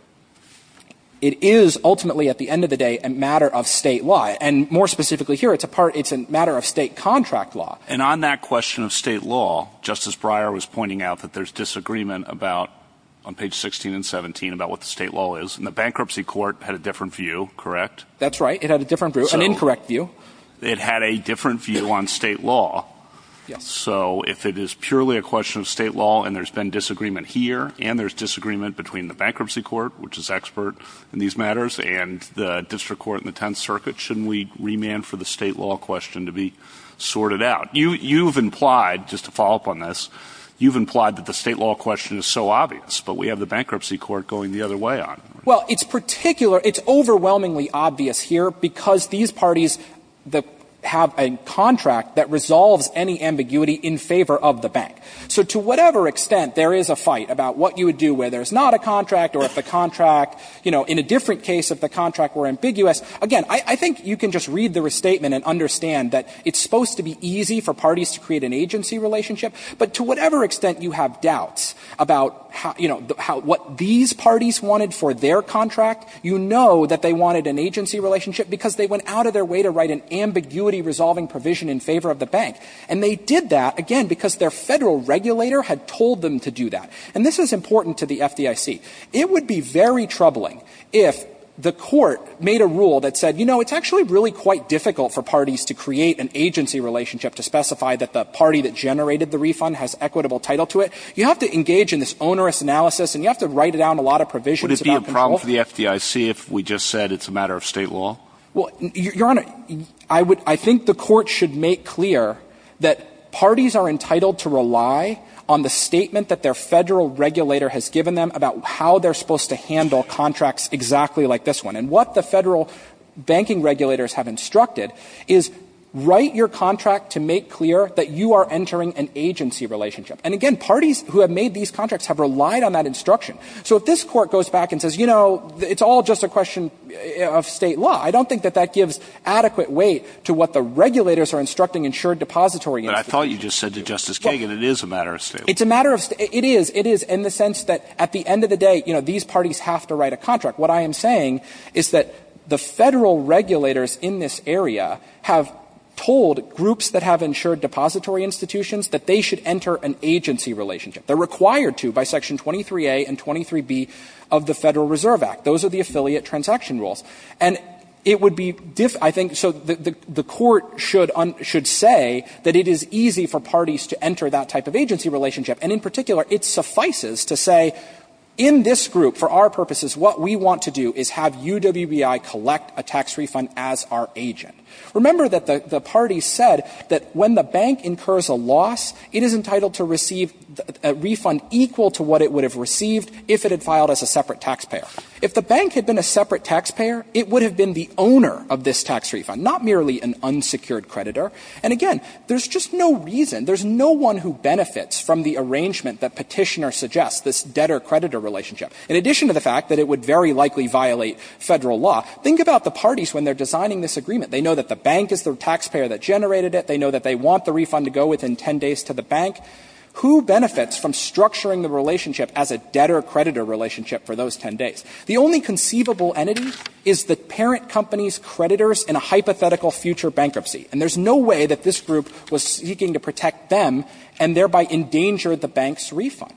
It is ultimately, at the end of the day, a matter of State law. And more specifically here, it's a part — it's a matter of State contract law. And on that question of State law, Justice Breyer was pointing out that there's disagreement about — on page 16 and 17 — about what the State law is. And the Bankruptcy Court had a different view, correct? That's right. It had a different view — an incorrect view. It had a different view on State law. Yes. So if it is purely a question of State law and there's been disagreement here and there's disagreement between the Bankruptcy Court, which is expert in these matters, and the District Court and the Tenth Circuit, shouldn't we remand for the State law question to be sorted out? You've implied, just to follow up on this, you've implied that the State law question is so obvious, but we have the Bankruptcy Court going the other way on it. Well, it's particular — it's overwhelmingly obvious here because these parties that have a contract that resolves any ambiguity in favor of the Bank. So to whatever extent there is a fight about what you would do where there's not a contract or if the contract — you know, in a different case, if the contract were ambiguous, again, I think you can just read the restatement and understand that it's supposed to be easy for parties to create an agency relationship, but to whatever extent you have doubts about, you know, what these parties wanted for their contract, you know that they wanted an agency relationship because they went out of their way to write an ambiguity-resolving provision in favor of the Bank. And they did that, again, because their Federal regulator had told them to do that. And this is important to the FDIC. It would be very troubling if the Court made a rule that said, you know, it's actually really quite difficult for parties to create an agency relationship to specify that the party that generated the refund has equitable title to it. You have to engage in this onerous analysis, and you have to write down a lot of provisions about control. Would it be a problem for the FDIC if we just said it's a matter of State law? Well, Your Honor, I would — I think the Court should make clear that parties are entitled to rely on the statement that their Federal regulator has given them about how they're supposed to handle contracts exactly like this one, and what the Federal banking regulators have instructed, is write your contract to make clear that you are entering an agency relationship. And, again, parties who have made these contracts have relied on that instruction. So if this Court goes back and says, you know, it's all just a question of State law, I don't think that that gives adequate weight to what the regulators are instructing insured depository institutions to do. But I thought you just said to Justice Kagan it is a matter of State law. It's a matter of — it is. It is in the sense that at the end of the day, you know, these parties have to write a contract. What I am saying is that the Federal regulators in this area have told groups that have insured depository institutions that they should enter an agency relationship. They're required to by Section 23A and 23B of the Federal Reserve Act. Those are the affiliate transaction rules. And it would be — I think — so the Court should say that it is easy for parties to enter that type of agency relationship, and in particular, it suffices to say in this group, for our purposes, what we want to do is have UWBI collect a tax refund as our agent. Remember that the parties said that when the bank incurs a loss, it is entitled to receive a refund equal to what it would have received if it had filed as a separate taxpayer. If the bank had been a separate taxpayer, it would have been the owner of this tax refund, not merely an unsecured creditor. And again, there's just no reason, there's no one who benefits from the arrangement that Petitioner suggests, this debtor-creditor relationship, in addition to the fact that it would very likely violate Federal law. Think about the parties when they're designing this agreement. They know that the bank is the taxpayer that generated it. They know that they want the refund to go within 10 days to the bank. Who benefits from structuring the relationship as a debtor-creditor relationship for those 10 days? The only conceivable entity is the parent company's creditors in a hypothetical future bankruptcy. And there's no way that this group was seeking to protect them, and thereby endangered the bank's refund.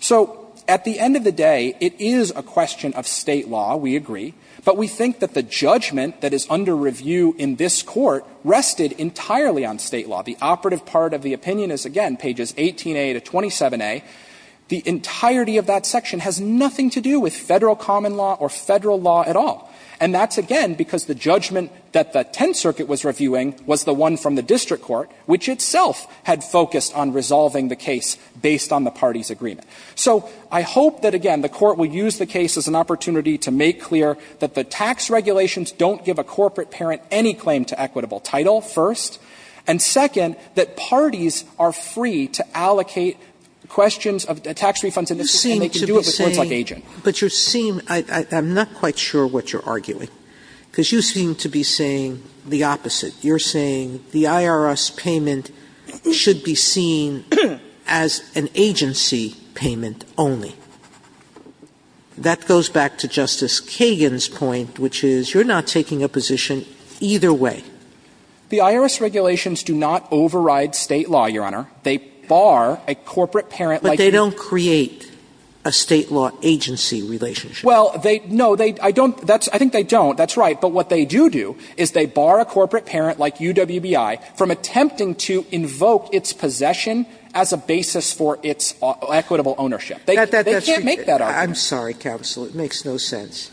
So at the end of the day, it is a question of State law, we agree, but we think that the judgment that is under review in this Court rested entirely on State law. The operative part of the opinion is, again, pages 18a to 27a. The entirety of that section has nothing to do with Federal common law or Federal law at all. And that's, again, because the judgment that the Tenth Circuit was reviewing was the one from the district court, which itself had focused on resolving the case based on the parties' agreement. So I hope that, again, the Court will use the case as an opportunity to make clear that the tax regulations don't give a corporate parent any claim to equitable title, first, and, second, that parties are free to allocate questions of tax refunds in this case, and they can do it with words like agent. Sotomayor, but you seem to be saying, I'm not quite sure what you're arguing, because you seem to be saying the opposite. You're saying the IRS payment should be seen as an agency payment only. That goes back to Justice Kagan's point, which is you're not taking a position either way. The IRS regulations do not override State law, Your Honor. They bar a corporate parent like a state law agency. But they don't create a State law agency relationship. Well, they don't. I think they don't. That's right. But what they do do is they bar a corporate parent like UWBI from attempting to invoke its possession as a basis for its equitable ownership. They can't make that argument. Sotomayor, I'm sorry, counsel, it makes no sense.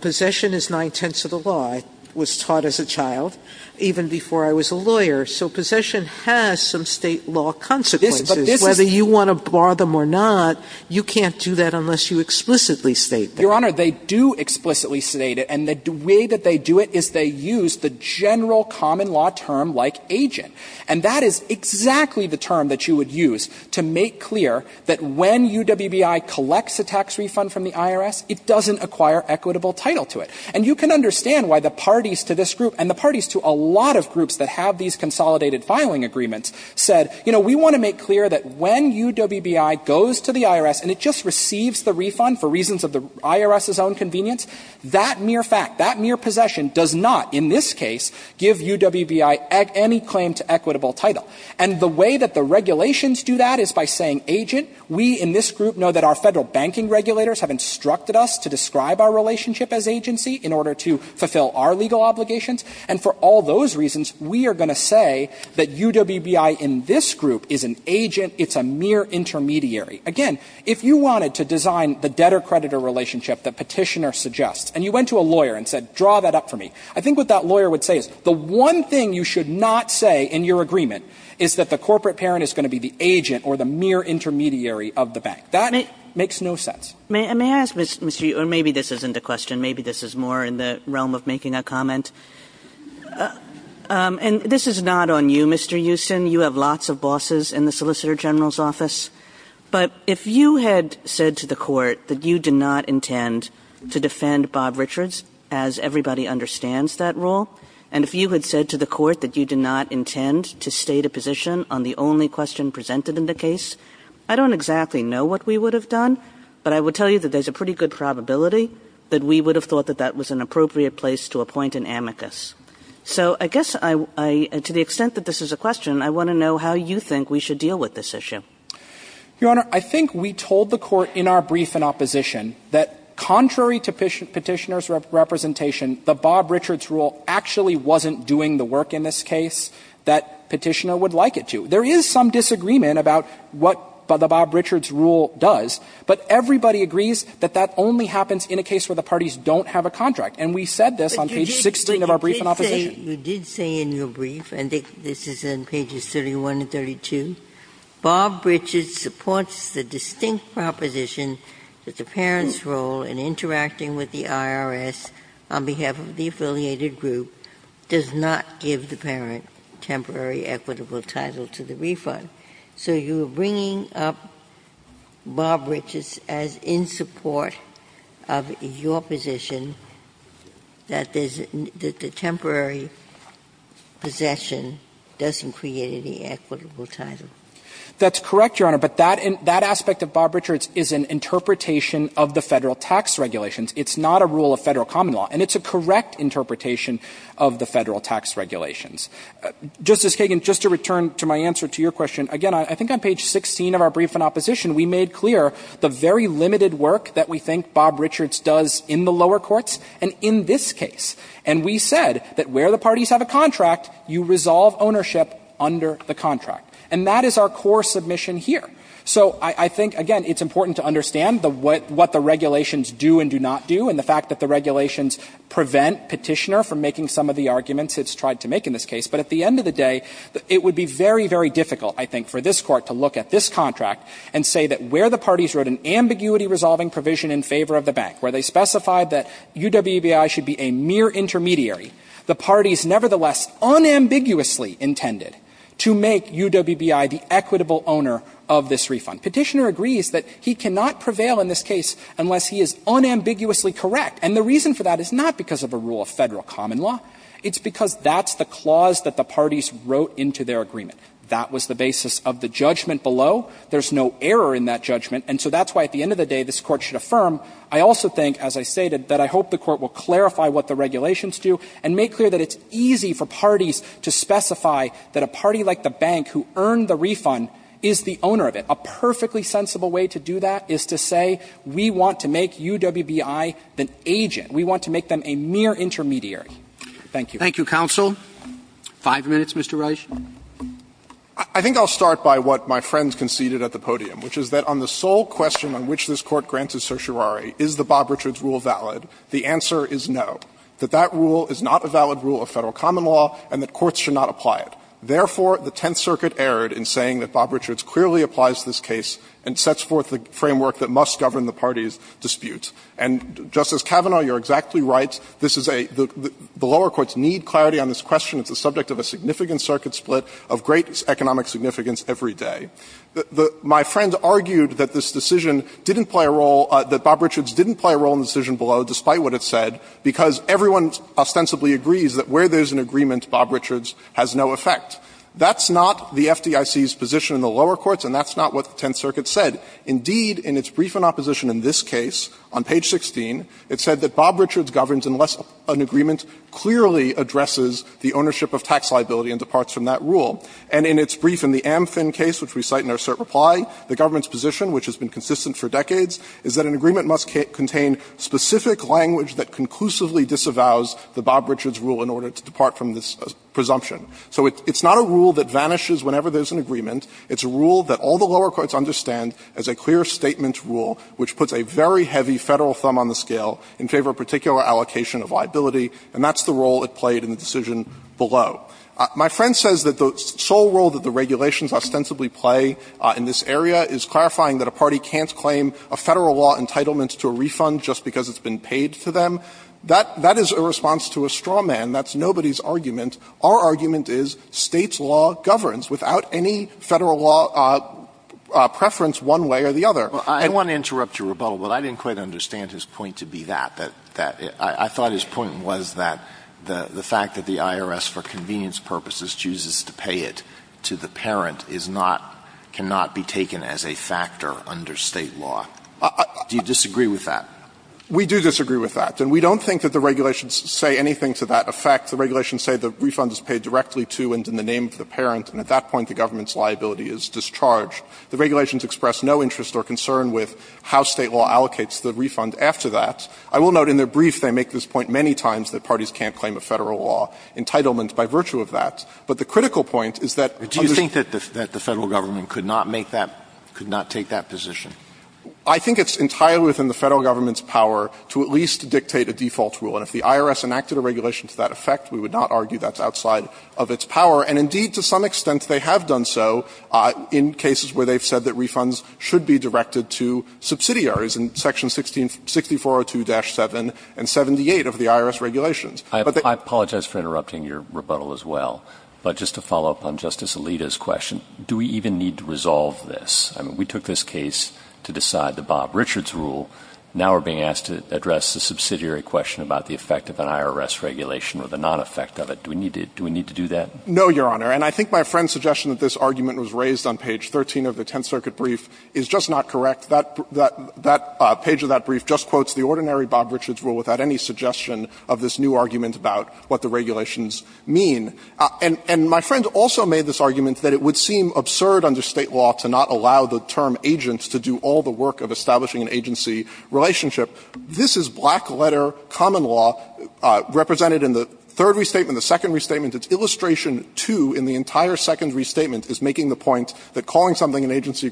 Possession is nine-tenths of the law. I was taught as a child, even before I was a lawyer, so possession has some State law consequences. Whether you want to bar them or not, you can't do that unless you explicitly state that. Your Honor, they do explicitly state it, and the way that they do it is they use the general common law term like agent. And that is exactly the term that you would use to make clear that when UWBI collects a tax refund from the IRS, it doesn't acquire equitable title to it. And you can understand why the parties to this group, and the parties to a lot of groups that have these consolidated filing agreements, said, you know, we want to make clear that when UWBI goes to the IRS and it just receives the refund for reasons of the IRS's own convenience, that mere fact, that mere possession does not, in this case, give UWBI any claim to equitable title. And the way that the regulations do that is by saying, agent, we in this group know that our Federal banking regulators have instructed us to describe our relationship as agency in order to fulfill our legal obligations, and for all those reasons, we are going to say that UWBI in this group is an agent, it's a mere intermediary. Again, if you wanted to design the debtor-creditor relationship that Petitioner suggests, and you went to a lawyer and said, draw that up for me, I think what that lawyer would say is, the one thing you should not say in your agreement is that the corporate parent is going to be the agent or the mere intermediary of the bank. That makes no sense. Kagan. May I ask, Mr. Euston, or maybe this isn't a question, maybe this is more in the realm of making a comment, and this is not on you, Mr. Euston. You have lots of bosses in the Solicitor General's office, but if you had said to the court that you did not intend to defend Bob Richards, as everybody understands that role, and if you had said to the court that you did not intend to state a position on the only question presented in the case, I don't exactly know what we would have agreed on, but I would tell you that there's a pretty good probability that we would have thought that that was an appropriate place to appoint an amicus. So I guess I — to the extent that this is a question, I want to know how you think we should deal with this issue. Euston. Your Honor, I think we told the court in our brief in opposition that, contrary to Petitioner's representation, the Bob Richards rule actually wasn't doing the work in this case that Petitioner would like it to. There is some disagreement about what the Bob Richards rule does, but everybody agrees that that only happens in a case where the parties don't have a contract, and we said this on page 16 of our brief in opposition. Ginsburg. You did say in your brief, and this is in pages 31 and 32, Bob Richards supports the distinct proposition that the parent's role in interacting with the IRS on behalf of the affiliated group does not give the parent temporary equitable title to the refund. So you're bringing up Bob Richards as in support of your position that there's — that the temporary possession doesn't create any equitable title. That's correct, Your Honor, but that aspect of Bob Richards is an interpretation of the Federal tax regulations. It's not a rule of Federal common law, and it's a correct interpretation of the Federal tax regulations. Justice Kagan, just to return to my answer to your question, again, I think on page 16 of our brief in opposition we made clear the very limited work that we think Bob Richards does in the lower courts and in this case. And we said that where the parties have a contract, you resolve ownership under the contract. And that is our core submission here. So I think, again, it's important to understand the — what the regulations do and do not do, and the fact that the regulations prevent Petitioner from making some of the arguments it's tried to make in this case. But at the end of the day, it would be very, very difficult, I think, for this Court to look at this contract and say that where the parties wrote an ambiguity-resolving provision in favor of the bank, where they specified that UWBI should be a mere intermediary, the parties nevertheless unambiguously intended to make UWBI the equitable owner of this refund. Petitioner agrees that he cannot prevail in this case unless he is unambiguously correct. And the reason for that is not because of a rule of Federal common law. It's because that's the clause that the parties wrote into their agreement. That was the basis of the judgment below. There's no error in that judgment. And so that's why at the end of the day this Court should affirm. I also think, as I stated, that I hope the Court will clarify what the regulations do and make clear that it's easy for parties to specify that a party like the bank who earned the refund is the owner of it. A perfectly sensible way to do that is to say we want to make UWBI the agent. We want to make them a mere intermediary. Thank you. Roberts. Thank you, counsel. Five minutes, Mr. Reich. I think I'll start by what my friend conceded at the podium, which is that on the sole question on which this Court granted certiorari, is the Bob Richards rule valid, the answer is no, that that rule is not a valid rule of Federal common law and that courts should not apply it. Therefore, the Tenth Circuit erred in saying that Bob Richards clearly applies this case and sets forth the framework that must govern the party's dispute. And, Justice Kavanaugh, you're exactly right. This is a — the lower courts need clarity on this question. It's the subject of a significant circuit split of great economic significance every day. My friend argued that this decision didn't play a role — that Bob Richards didn't play a role in the decision below, despite what it said, because everyone ostensibly agrees that where there's an agreement, Bob Richards has no effect. That's not the FDIC's position in the lower courts, and that's not what the Tenth Circuit said. Indeed, in its brief in opposition in this case, on page 16, it said that Bob Richards governs unless an agreement clearly addresses the ownership of tax liability and departs from that rule. And in its brief in the Amfin case, which we cite in our cert reply, the government's position, which has been consistent for decades, is that an agreement must contain specific language that conclusively disavows the Bob Richards rule in order to depart from this presumption. So it's not a rule that vanishes whenever there's an agreement. It's a rule that all the lower courts understand as a clear statement rule which puts a very heavy Federal thumb on the scale in favor of a particular allocation of liability, and that's the role it played in the decision below. My friend says that the sole role that the regulations ostensibly play in this area is clarifying that a party can't claim a Federal law entitlement to a refund just because it's been paid to them. That is a response to a straw man. That's nobody's argument. Our argument is State's law governs without any Federal law preference one way or the other. Alito I want to interrupt your rebuttal, but I didn't quite understand his point to be that. I thought his point was that the fact that the IRS for convenience purposes chooses to pay it to the parent is not, cannot be taken as a factor under State law. Do you disagree with that? We do disagree with that, and we don't think that the regulations say anything to that effect. The regulations say the refund is paid directly to and in the name of the parent, and at that point the government's liability is discharged. The regulations express no interest or concern with how State law allocates the refund after that. I will note in their brief they make this point many times that parties can't claim a Federal law entitlement by virtue of that. But the critical point is that under Do you think that the Federal government could not make that, could not take that position? I think it's entirely within the Federal government's power to at least dictate a default rule. And if the IRS enacted a regulation to that effect, we would not argue that's outside of its power. And indeed, to some extent, they have done so in cases where they've said that refunds should be directed to subsidiaries in Section 1660402-7 and 78 of the IRS regulations. But they I apologize for interrupting your rebuttal as well, but just to follow up on Justice Alito's question, do we even need to resolve this? I mean, we took this case to decide the Bob Richards rule. Now we're being asked to address the subsidiary question about the effect of an IRS regulation or the non-effect of it. Do we need to do that? No, Your Honor. And I think my friend's suggestion that this argument was raised on page 13 of the Tenth Circuit brief is just not correct. That page of that brief just quotes the ordinary Bob Richards rule without any suggestion of this new argument about what the regulations mean. And my friend also made this argument that it would seem absurd under State law to not allow the term agent to do all the work of establishing an agency relationship. This is black-letter common law represented in the third restatement, the second restatement. Its illustration, too, in the entire second restatement is making the point that calling something an agency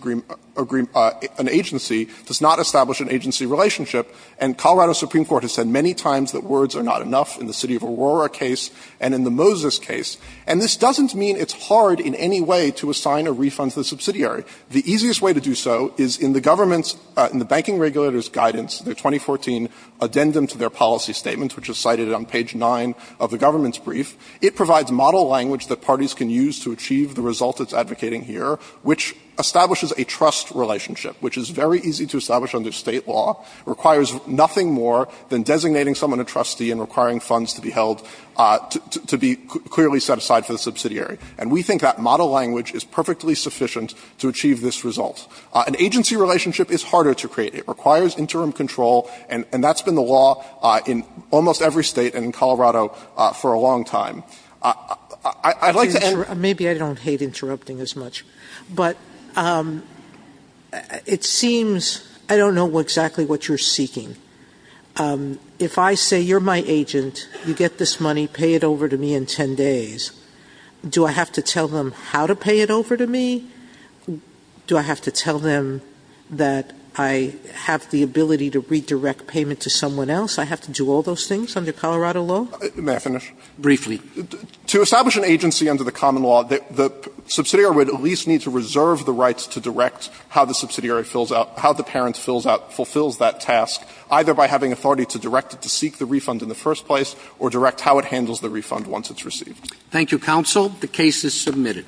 does not establish an agency relationship. And Colorado Supreme Court has said many times that words are not enough in the City of Aurora case and in the Moses case. And this doesn't mean it's hard in any way to assign a refund to the subsidiary. The easiest way to do so is in the government's, in the banking regulator's guidance, their 2014 addendum to their policy statement, which is cited on page 9 of the government's brief, it provides model language that parties can use to achieve the result it's advocating here, which establishes a trust relationship, which is very easy to establish under State law, requires nothing more than designating someone a trustee and requiring funds to be held, to be clearly set aside for the subsidiary. And we think that model language is perfectly sufficient to achieve this result. An agency relationship is harder to create. It requires interim control, and that's been the law in almost every state and in Colorado for a long time. I'd like to end. Maybe I don't hate interrupting as much, but it seems I don't know exactly what you're seeking. If I say you're my agent, you get this money, pay it over to me in 10 days, do I have to tell them how to pay it over to me? Do I have to tell them that I have the ability to redirect payment to someone else? I have to do all those things under Colorado law? May I finish? Briefly. To establish an agency under the common law, the subsidiary would at least need to reserve the rights to direct how the subsidiary fills out, how the parent fills out, fulfills that task, either by having authority to direct it to seek the refund Thank you, counsel. The case is submitted.